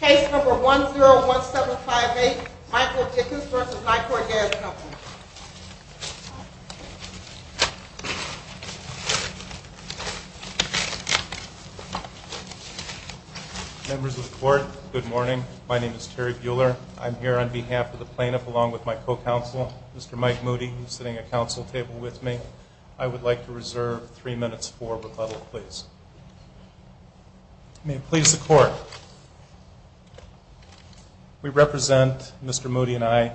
Case number 101758, Michael Dikcis v. Nicor Gas Company. Members of the court, good morning. My name is Terry Buehler. I'm here on behalf of the plaintiff along with my co-counsel, Mr. Mike Moody, who's sitting at council table with me. I would like to reserve three minutes for rebuttal, please. May it please the court. We represent, Mr. Moody and I,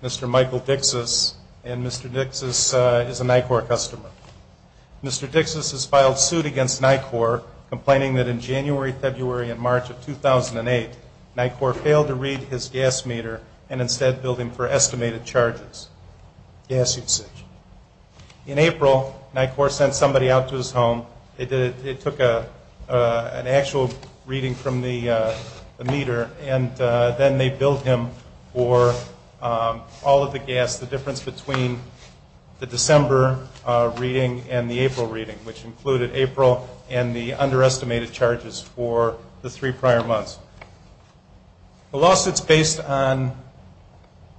Mr. Michael Dikcis, and Mr. Dikcis is a Nicor customer. Mr. Dikcis has filed suit against Nicor, complaining that in January, February, and March of 2008, Nicor failed to read his gas meter and instead billed him for estimated charges. Gas usage. In April, Nicor sent somebody out to his home. It took an actual reading from the meter, and then they billed him for all of the gas, the difference between the December reading and the April reading, which included April and the underestimated charges for the three prior months. The lawsuit's based on,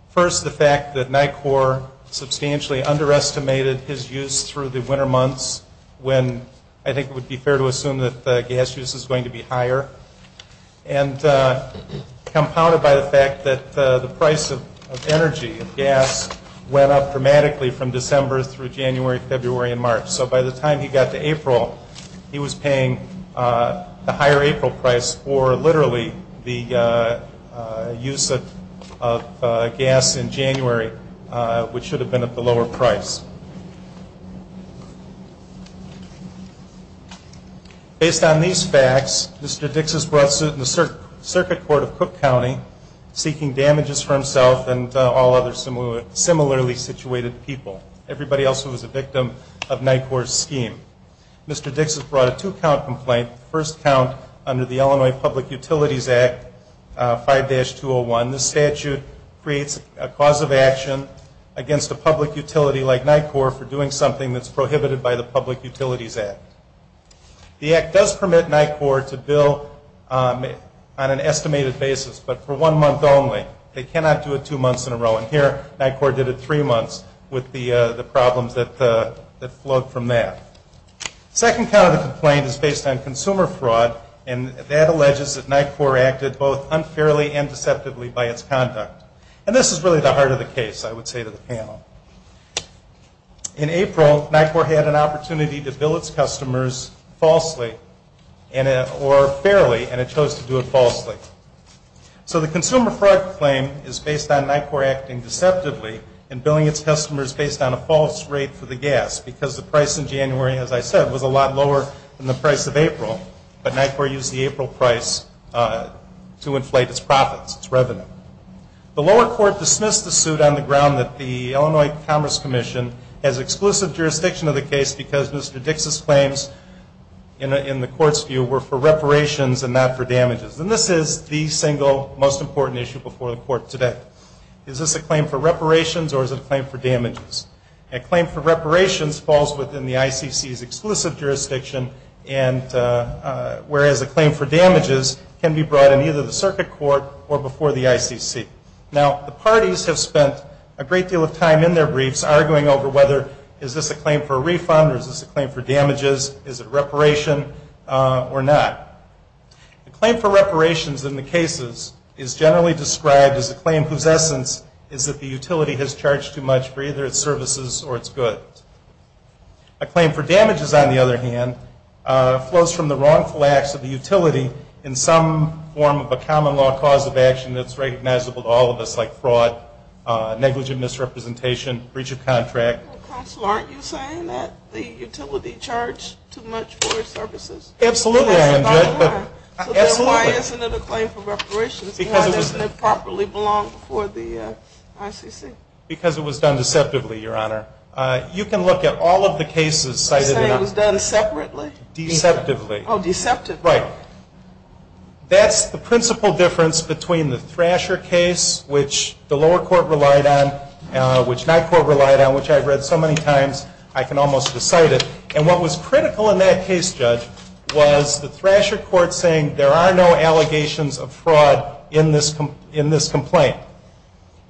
first, the fact that Nicor substantially underestimated his use through the winter months, when I think it would be fair to assume that gas use is going to be higher, and compounded by the fact that the price of energy, of gas, went up dramatically from December through January, February, and March. So by the time he got to April, he was paying the higher April price for literally the use of gas in January, which should have been at the lower price. Based on these facts, Mr. Dikcis brought suit in the circuit court of Cook County, seeking damages for himself and all other similarly situated people. Everybody else who was a victim of Nicor's scheme. Mr. Dikcis brought a two-count complaint, the first count under the Illinois Public Utilities Act 5-201. This statute creates a cause of action against a public utility like Nicor for doing something that's prohibited by the Public Utilities Act. The Act does permit Nicor to bill on an estimated basis, but for one month only. They cannot do it two months in a row. And here, Nicor did it three months with the problems that flowed from that. The second count of the complaint is based on consumer fraud, and that alleges that Nicor acted both unfairly and deceptively by its conduct. And this is really the heart of the case, I would say to the panel. In April, Nicor had an opportunity to bill its customers falsely or fairly, and it chose to do it falsely. So the consumer fraud claim is based on Nicor acting deceptively and billing its customers based on a false rate for the gas because the price in January, as I said, was a lot lower than the price of April. But Nicor used the April price to inflate its profits, its revenue. The lower court dismissed the suit on the ground that the Illinois Commerce Commission has exclusive jurisdiction of the case because Mr. Dikcis' claims in the court's view were for reparations and not for damages. And this is the single most important issue before the court today. Is this a claim for reparations or is it a claim for damages? A claim for reparations falls within the ICC's exclusive jurisdiction, whereas a claim for damages can be brought in either the circuit court or before the ICC. Now, the parties have spent a great deal of time in their briefs arguing over whether is this a claim for a refund or is this a claim for damages, is it reparation or not? A claim for reparations in the cases is generally described as a claim whose essence is that the utility has charged too much for either its services or its goods. A claim for damages, on the other hand, flows from the wrongful acts of the utility in some form of a common law cause of action that's recognizable to all of us like fraud, negligent misrepresentation, breach of contract. Counsel, aren't you saying that the utility charged too much for its services? Absolutely, Your Honor. Absolutely. Then why isn't it a claim for reparations? Why doesn't it properly belong before the ICC? Because it was done deceptively, Your Honor. You can look at all of the cases cited. Are you saying it was done separately? Deceptively. Oh, deceptively. Right. That's the principal difference between the Thrasher case, which the lower court relied on, which my court relied on, which I've read so many times I can almost recite it. And what was critical in that case, Judge, was the Thrasher court saying there are no allegations of fraud in this complaint.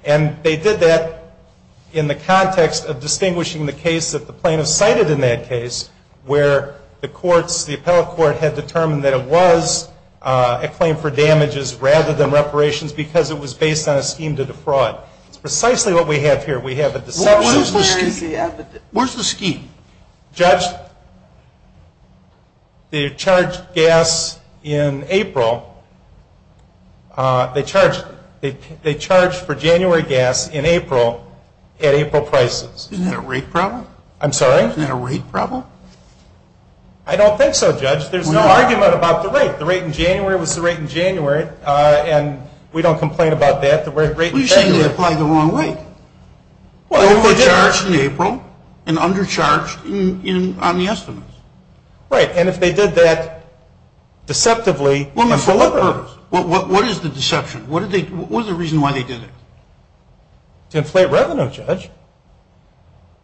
And they did that in the context of distinguishing the case that the plaintiffs cited in that case where the courts, the appellate court, had determined that it was a claim for damages rather than reparations because it was based on a scheme to defraud. It's precisely what we have here. We have a deception. Where is the scheme? Judge, they charged gas in April. They charged for January gas in April at April prices. Isn't that a rate problem? I'm sorry? Isn't that a rate problem? I don't think so, Judge. There's no argument about the rate. The rate in January was the rate in January, and we don't complain about that. You're saying they applied the wrong rate. Overcharged in April and undercharged on the estimates. Right. And if they did that deceptively and for what purpose? What is the deception? What is the reason why they did it? To inflate revenue, Judge.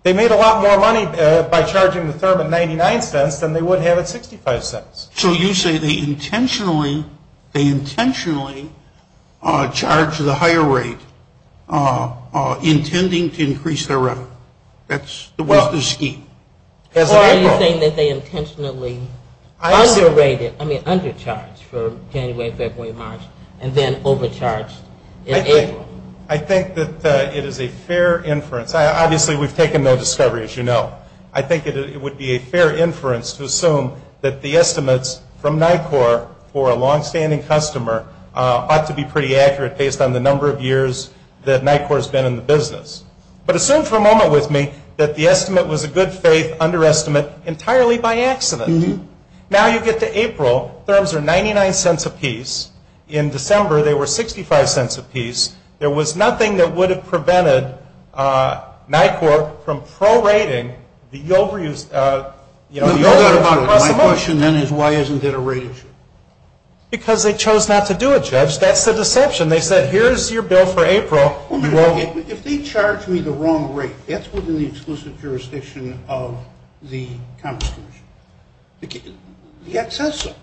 They made a lot more money by charging the firm at 99 cents than they would have at 65 cents. So you say they intentionally charged the higher rate intending to increase their revenue. That's the scheme. Or are you saying that they intentionally undercharged for January, February, March, and then overcharged in April? I think that it is a fair inference. Obviously, we've taken no discovery, as you know. I think it would be a fair inference to assume that the estimates from NICOR for a longstanding customer ought to be pretty accurate based on the number of years that NICOR has been in the business. But assume for a moment with me that the estimate was a good-faith underestimate entirely by accident. Now you get to April. Firms are 99 cents apiece. In December, they were 65 cents apiece. There was nothing that would have prevented NICOR from prorating the overuse. My question, then, is why isn't it a rate issue? Because they chose not to do it, Judge. That's the deception. They said, here's your bill for April. If they charge me the wrong rate, that's within the exclusive jurisdiction of the Commerce Commission. The Act says so.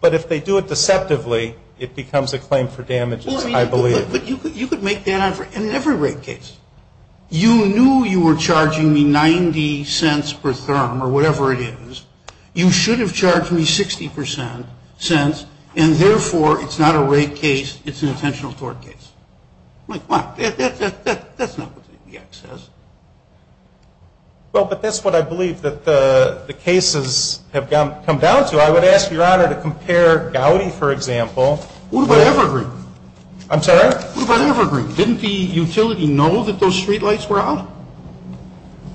But if they do it deceptively, it becomes a claim for damages, I believe. But you could make that on every rate case. You knew you were charging me 90 cents per therm, or whatever it is. You should have charged me 60 cents, and, therefore, it's not a rate case. It's an intentional tort case. I'm like, what? That's not what the Act says. Well, but that's what I believe that the cases have come down to. I would ask Your Honor to compare Gowdy, for example. What about Evergreen? I'm sorry? What about Evergreen? Didn't the utility know that those streetlights were out?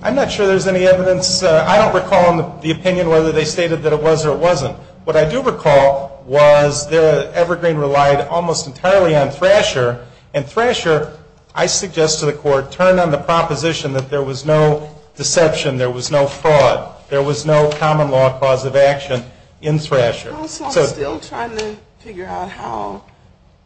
I'm not sure there's any evidence. I don't recall the opinion whether they stated that it was or it wasn't. What I do recall was Evergreen relied almost entirely on Thrasher. And Thrasher, I suggest to the Court, turned on the proposition that there was no deception, there was no fraud, there was no common law cause of action in Thrasher. So I'm still trying to figure out how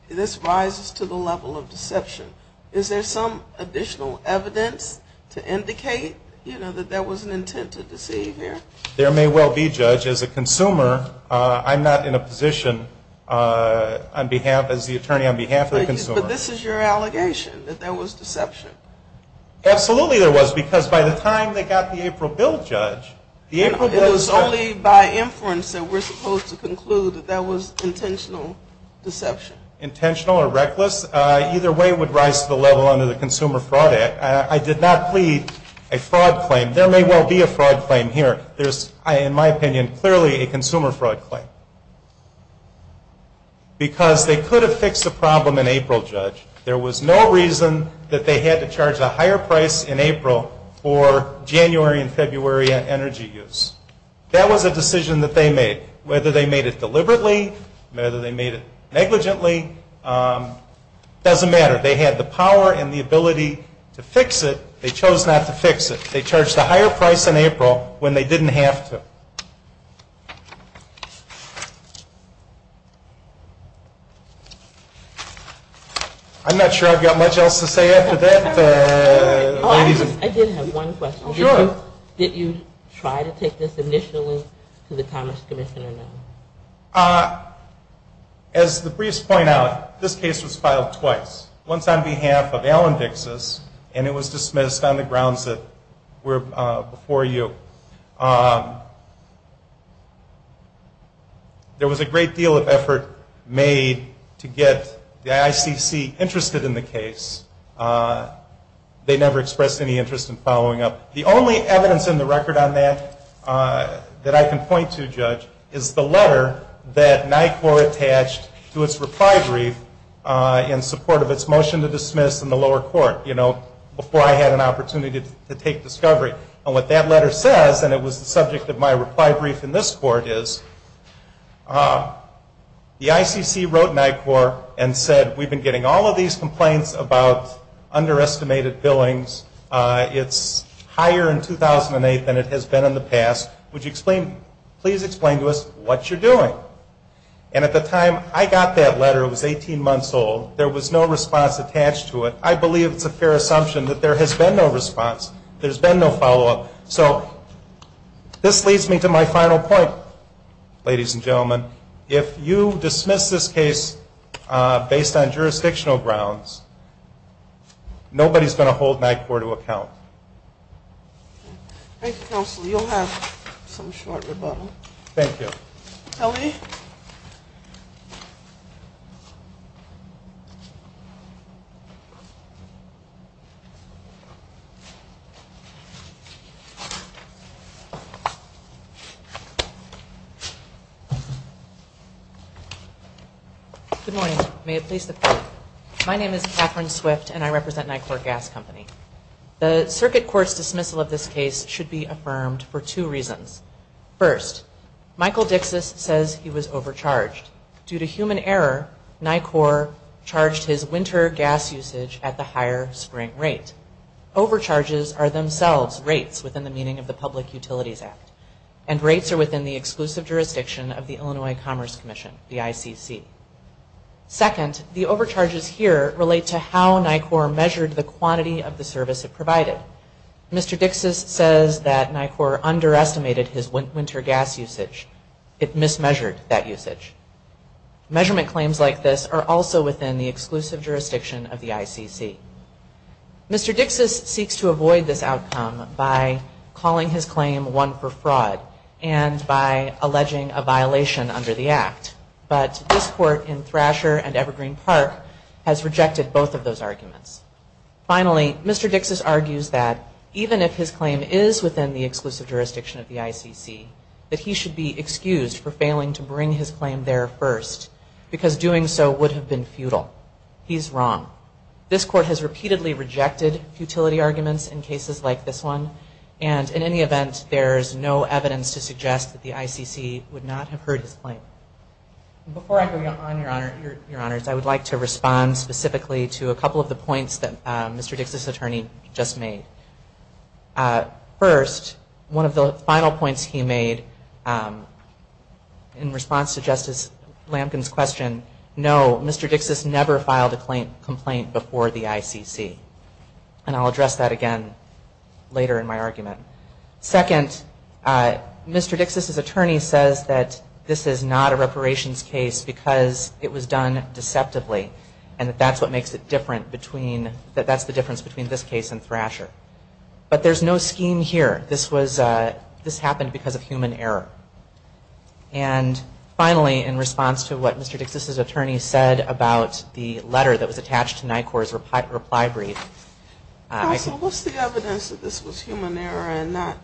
this rises to the level of deception. Is there some additional evidence to indicate, you know, that there was an intent to deceive here? There may well be, Judge. As a consumer, I'm not in a position as the attorney on behalf of the consumer. But this is your allegation, that there was deception. Absolutely there was, because by the time they got the April Bill, Judge. It was only by inference that we're supposed to conclude that that was intentional deception. Intentional or reckless? Either way it would rise to the level under the Consumer Fraud Act. I did not plead a fraud claim. There may well be a fraud claim here. There's, in my opinion, clearly a consumer fraud claim. Because they could have fixed the problem in April, Judge. There was no reason that they had to charge a higher price in April for January and February energy use. That was a decision that they made. Whether they made it deliberately, whether they made it negligently, doesn't matter. They had the power and the ability to fix it. They chose not to fix it. They charged a higher price in April when they didn't have to. I'm not sure I've got much else to say after that. I did have one question. Sure. Did you try to take this initially to the Commerce Commission or no? As the briefs point out, this case was filed twice. Once on behalf of Alan Dixis and it was dismissed on the grounds that were before you. There was a great deal of effort made to get the ICC interested in the case. They never expressed any interest in following up. The only evidence in the record on that that I can point to, Judge, is the letter that NICOR attached to its reply brief in support of its motion to dismiss in the lower court, before I had an opportunity to take discovery. What that letter says, and it was the subject of my reply brief in this court, is the ICC wrote NICOR and said, we've been getting all of these complaints about underestimated billings. It's higher in 2008 than it has been in the past. Would you please explain to us what you're doing? And at the time I got that letter, it was 18 months old. There was no response attached to it. I believe it's a fair assumption that there has been no response. There's been no follow-up. So this leads me to my final point, ladies and gentlemen. If you dismiss this case based on jurisdictional grounds, nobody's going to hold NICOR to account. Thank you, Counselor. You'll have some short rebuttal. Thank you. Kelly? Good morning. My name is Catherine Swift, and I represent NICOR Gas Company. The circuit court's dismissal of this case should be affirmed for two reasons. First, Michael Dixis says he was overcharged. Due to human error, NICOR charged his winter gas usage at the higher spring rate. Overcharges are themselves rates within the meaning of the Public Utilities Act, and rates are within the exclusive jurisdiction of the Illinois Commerce Commission, the ICC. Second, the overcharges here relate to how NICOR measured the quantity of the service it provided. Mr. Dixis says that NICOR underestimated his winter gas usage. It mismeasured that usage. Measurement claims like this are also within the exclusive jurisdiction of the ICC. Mr. Dixis seeks to avoid this outcome by calling his claim one for fraud and by alleging a violation under the Act. But this court in Thrasher and Evergreen Park has rejected both of those arguments. Finally, Mr. Dixis argues that even if his claim is within the exclusive jurisdiction of the ICC, that he should be excused for failing to bring his claim there first, because doing so would have been futile. He's wrong. This court has repeatedly rejected futility arguments in cases like this one, and in any event, there is no evidence to suggest that the ICC would not have heard his claim. Before I go on, Your Honors, I would like to respond specifically to a couple of the points that Mr. Dixis's attorney just made. First, one of the final points he made in response to Justice Lampkin's question, no, Mr. Dixis never filed a complaint before the ICC. And I'll address that again later in my argument. Second, Mr. Dixis's attorney says that this is not a reparations case because it was done deceptively, and that that's what makes it different between, that that's the difference between this case and Thrasher. But there's no scheme here. This was, this happened because of human error. And finally, in response to what Mr. Dixis's attorney said about the letter that was attached to NICOR's reply brief. Counsel, what's the evidence that this was human error and not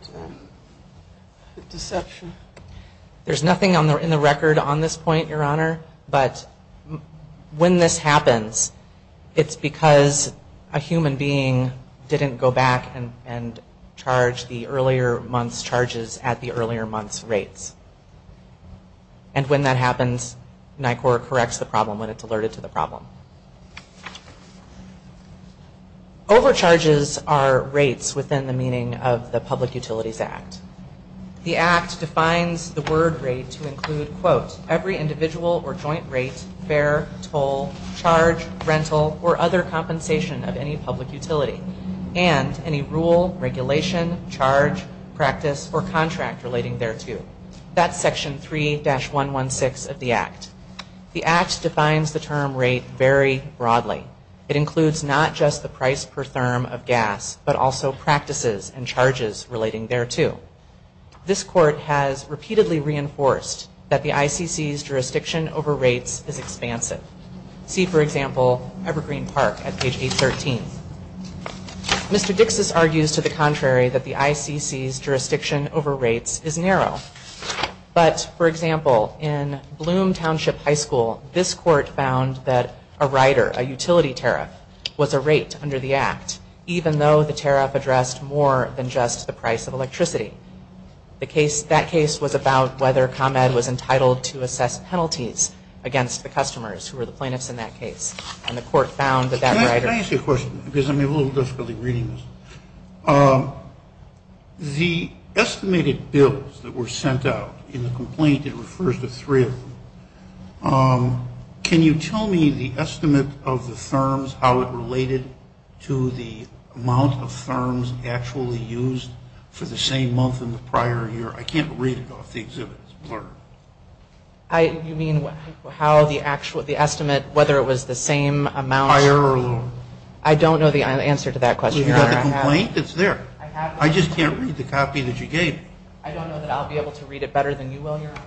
deception? There's nothing in the record on this point, Your Honor. But when this happens, it's because a human being didn't go back and charge the earlier month's charges at the earlier month's rates. And when that happens, NICOR corrects the problem when it's alerted to the problem. Overcharges are rates within the meaning of the Public Utilities Act. The Act defines the word rate to include, quote, every individual or joint rate, fare, toll, charge, rental, or other compensation of any public utility, and any rule, regulation, charge, practice, or contract relating thereto. That's Section 3-116 of the Act. The Act defines the term rate very broadly. It includes not just the price per therm of gas, but also practices and charges relating thereto. This Court has repeatedly reinforced that the ICC's jurisdiction over rates is expansive. See, for example, Evergreen Park at page 813. Mr. Dixis argues to the contrary that the ICC's jurisdiction over rates is narrow. But, for example, in Bloom Township High School, this Court found that a rider, a utility tariff, was a rate under the Act, even though the tariff addressed more than just the price of electricity. That case was about whether ComEd was entitled to assess penalties against the customers, who were the plaintiffs in that case. And the Court found that that rider... Can I ask you a question? Because I'm having a little difficulty reading this. The estimated bills that were sent out in the complaint, it refers to three of them. Can you tell me the estimate of the therms, how it related to the amount of therms actually used for the same month in the prior year? I can't read it off the exhibit. You mean how the estimate, whether it was the same amount... Prior year. I don't know the answer to that question, Your Honor. You have the complaint that's there. I just can't read the copy that you gave me. I don't know that I'll be able to read it better than you will, Your Honor.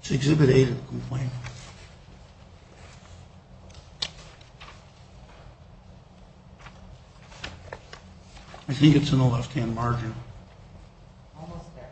It's Exhibit A of the complaint. I think it's in the left-hand margin. Almost there.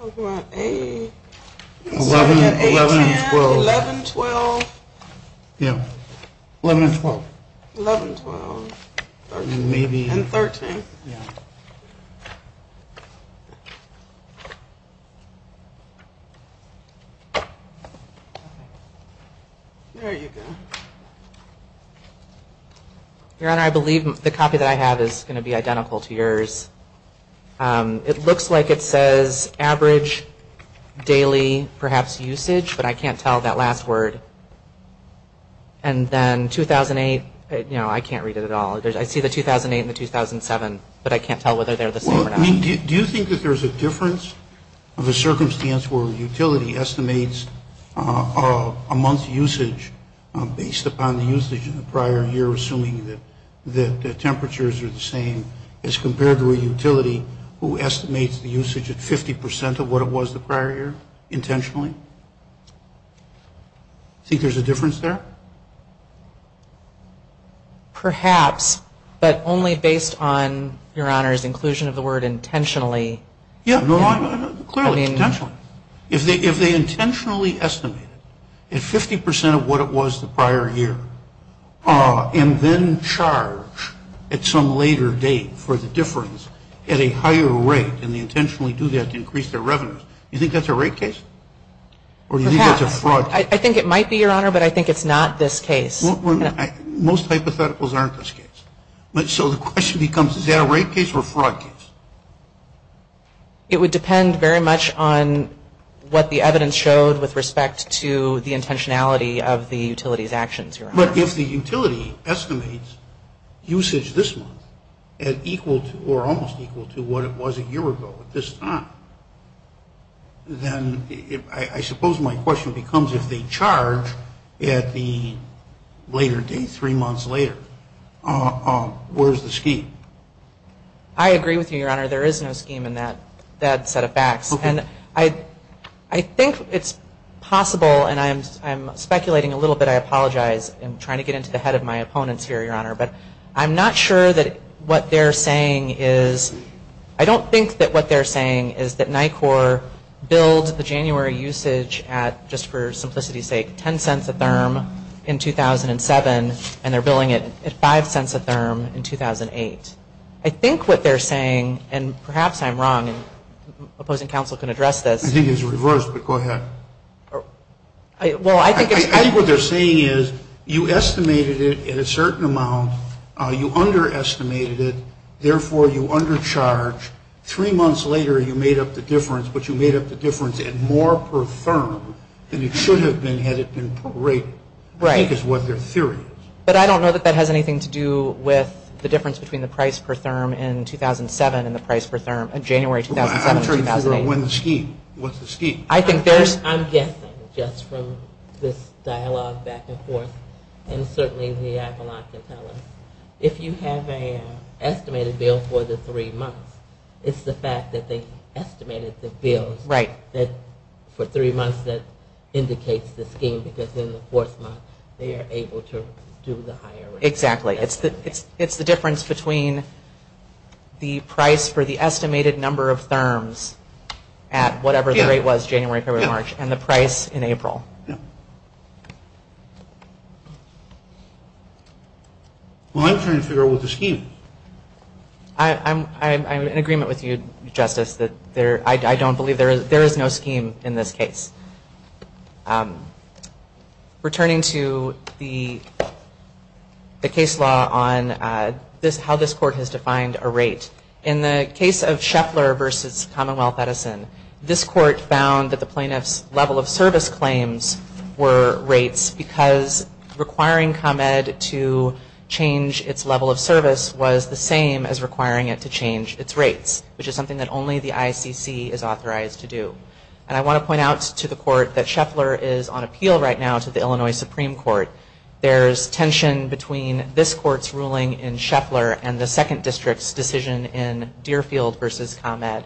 I'm talking about A... 11 and 12. 11, 12. Yeah. 11 and 12. 11, 12. 11 and 12. 11, 12. And maybe... And 13. Yeah. There you go. Your Honor, I believe the copy that I have is going to be identical to yours. It looks like it says average daily perhaps usage, but I can't tell that last word. And then 2008, you know, I can't read it at all. I see the 2008 and the 2007, but I can't tell whether they're the same or not. Do you think that there's a difference of a circumstance where a utility estimates a month's usage based upon the usage in the prior year, assuming that the temperatures are the same as compared to a utility who estimates the usage at 50 percent of what it was the prior year intentionally? Do you think there's a difference there? Perhaps, but only based on, Your Honor's inclusion of the word intentionally. Yeah, clearly, intentionally. If they intentionally estimate it at 50 percent of what it was the prior year and then charge at some later date for the difference at a higher rate and they intentionally do that to increase their revenues, do you think that's a rate case? Or do you think that's a fraud case? I think it might be, Your Honor, but I think it's not this case. Most hypotheticals aren't this case. So the question becomes, is that a rate case or a fraud case? It would depend very much on what the evidence showed with respect to the intentionality of the utility's actions, Your Honor. But if the utility estimates usage this month at equal to or almost equal to what it was a year ago at this time, then I suppose my question becomes if they charge at the later date, three months later, where's the scheme? I agree with you, Your Honor. There is no scheme in that set of facts. And I think it's possible, and I'm speculating a little bit. I apologize. I'm trying to get into the head of my opponents here, Your Honor. But I'm not sure that what they're saying is – or build the January usage at, just for simplicity's sake, $0.10 a therm in 2007, and they're billing it at $0.05 a therm in 2008. I think what they're saying, and perhaps I'm wrong, and opposing counsel can address this. I think it's reversed, but go ahead. I think what they're saying is you estimated it at a certain amount. You underestimated it. Therefore, you undercharge. Three months later, you made up the difference, but you made up the difference at more per therm than it should have been had it been per rate, I think is what their theory is. But I don't know that that has anything to do with the difference between the price per therm in 2007 and the price per therm in January 2007 and 2008. I'm trying to figure out when the scheme – what's the scheme? I think there's – I'm guessing, just from this dialogue back and forth, and certainly the Appalachian Palace, if you have an estimated bill for the three months, it's the fact that they estimated the bills for three months that indicates the scheme, because in the fourth month, they are able to do the higher rate. Exactly. It's the difference between the price for the estimated number of therms at whatever the rate was January, February, March, and the price in April. Yeah. Well, I'm trying to figure out what the scheme is. I'm in agreement with you, Justice, that there – I don't believe there is no scheme in this case. Returning to the case law on how this court has defined a rate, in the case of Scheffler v. Commonwealth Edison, this court found that the plaintiff's level of service claims were rates because requiring ComEd to change its level of service was the same as requiring it to change its rates, which is something that only the ICC is authorized to do. And I want to point out to the court that Scheffler is on appeal right now to the Illinois Supreme Court. There's tension between this court's ruling in Scheffler and the second district's decision in Deerfield v. ComEd.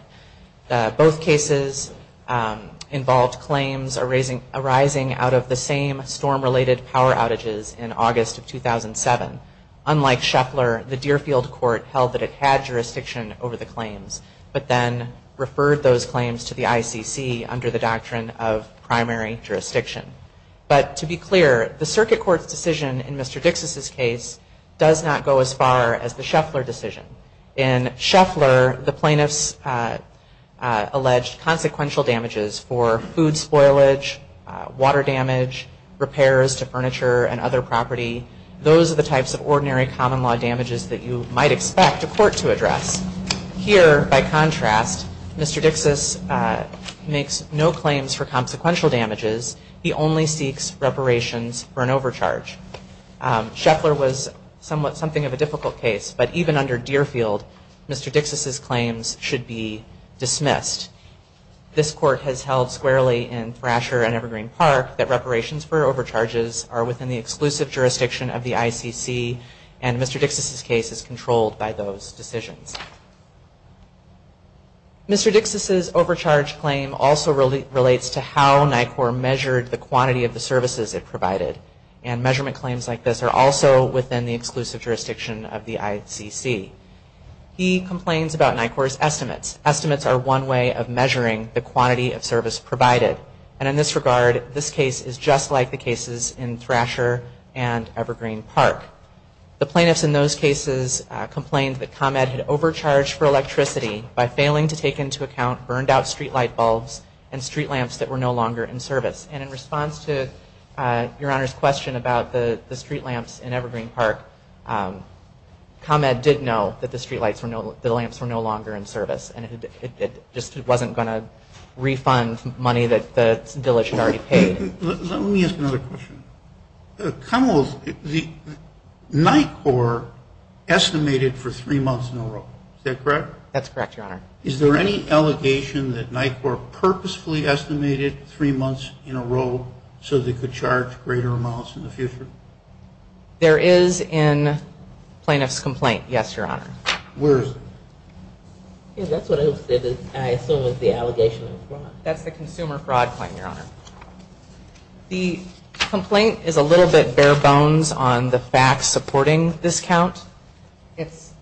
Both cases involved claims arising out of the same storm-related power outages in August of 2007. Unlike Scheffler, the Deerfield court held that it had jurisdiction over the claims, but then referred those claims to the ICC under the doctrine of primary jurisdiction. But to be clear, the circuit court's decision in Mr. Dixis's case does not go as far as the Scheffler decision. In Scheffler, the plaintiffs alleged consequential damages for food spoilage, water damage, repairs to furniture and other property. Those are the types of ordinary common-law damages that you might expect a court to address. Here, by contrast, Mr. Dixis makes no claims for consequential damages. He only seeks reparations for an overcharge. Scheffler was somewhat something of a difficult case, but even under Deerfield, Mr. Dixis's claims should be dismissed. This court has held squarely in Thrasher and Evergreen Park that reparations for overcharges are within the exclusive jurisdiction of the ICC, and Mr. Dixis's case is controlled by those decisions. Mr. Dixis's overcharge claim also relates to how NICOR measured the quantity of the services it provided, and measurement claims like this are also within the exclusive jurisdiction of the ICC. He complains about NICOR's estimates. Estimates are one way of measuring the quantity of service provided, and in this regard, this case is just like the cases in Thrasher and Evergreen Park. The plaintiffs in those cases complained that ComEd had overcharged for electricity by failing to take into account burned-out streetlight bulbs and street lamps that were no longer in service. And in response to Your Honor's question about the street lamps in Evergreen Park, ComEd did know that the street lamps were no longer in service, and it just wasn't going to refund money that the village had already paid. Let me ask another question. ComEd, NICOR estimated for three months in a row. Is that correct? That's correct, Your Honor. Is there any allegation that NICOR purposefully estimated three months in a row so they could charge greater amounts in the future? There is in plaintiff's complaint, yes, Your Honor. Where is it? That's what I said, I assume it's the allegation of fraud. That's the consumer fraud claim, Your Honor. The complaint is a little bit bare-bones on the facts supporting this count.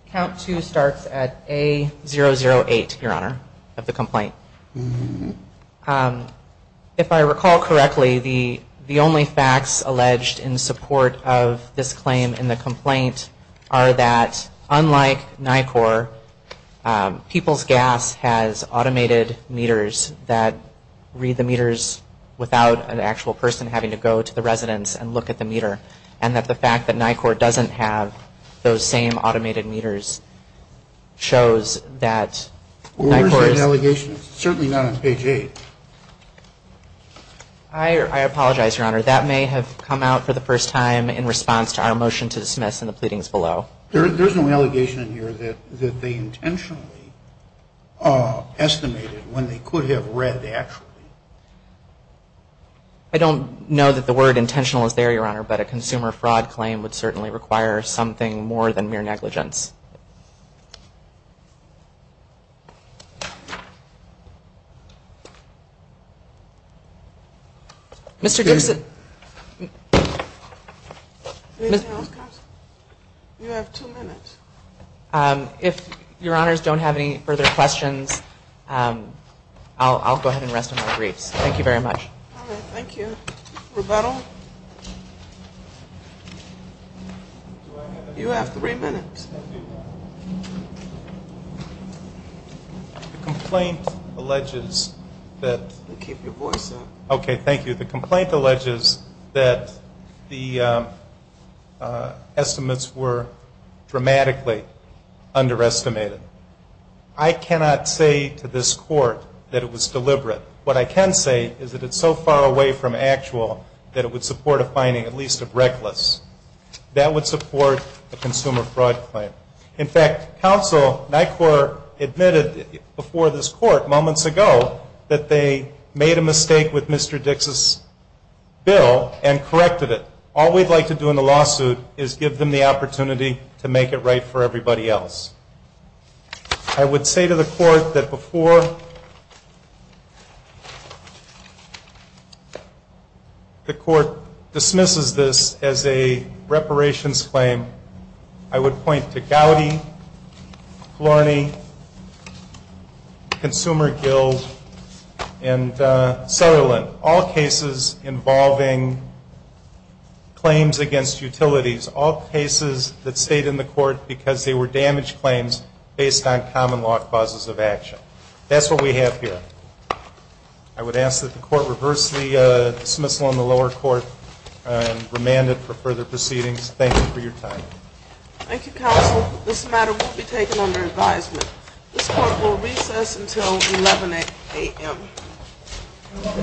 Count two starts at A008, Your Honor, of the complaint. If I recall correctly, the only facts alleged in support of this claim in the complaint are that unlike NICOR, People's Gas has automated meters that read the meters without an actual person having to go to the residence and look at the meter, and that the fact that NICOR doesn't have those same automated meters shows that NICOR is. Where is that allegation? It's certainly not on page 8. I apologize, Your Honor. That may have come out for the first time in response to our motion to dismiss in the pleadings below. There's no allegation in here that they intentionally estimated when they could have read actually. I don't know that the word intentional is there, Your Honor, but a consumer fraud claim would certainly require something more than mere negligence. Mr. Gibson. You have two minutes. If Your Honors don't have any further questions, I'll go ahead and rest on my briefs. Thank you very much. All right. Thank you. Roberto. You have three minutes. The complaint alleges that... Keep your voice up. Okay. Thank you. The complaint alleges that the estimates were dramatically underestimated. I cannot say to this Court that it was deliberate. What I can say is that it's so far away from actual that it would support a finding at least of reckless. That would support a consumer fraud claim. In fact, counsel, NICOR, admitted before this Court moments ago that they made a mistake with Mr. Dix's bill and corrected it. All we'd like to do in the lawsuit is give them the opportunity to make it right for everybody else. I would say to the Court that before the Court dismisses this as a reparations claim, I would point to Gowdy, Flourney, Consumer Guild, and Sutherland, all cases involving claims against utilities, all cases that stayed in the Court because they were damage claims based on common law clauses of action. That's what we have here. I would ask that the Court reverse the dismissal on the lower court and remand it for further proceedings. Thank you for your time. Thank you, counsel. This matter will be taken under advisement. This Court will recess until 11 a.m.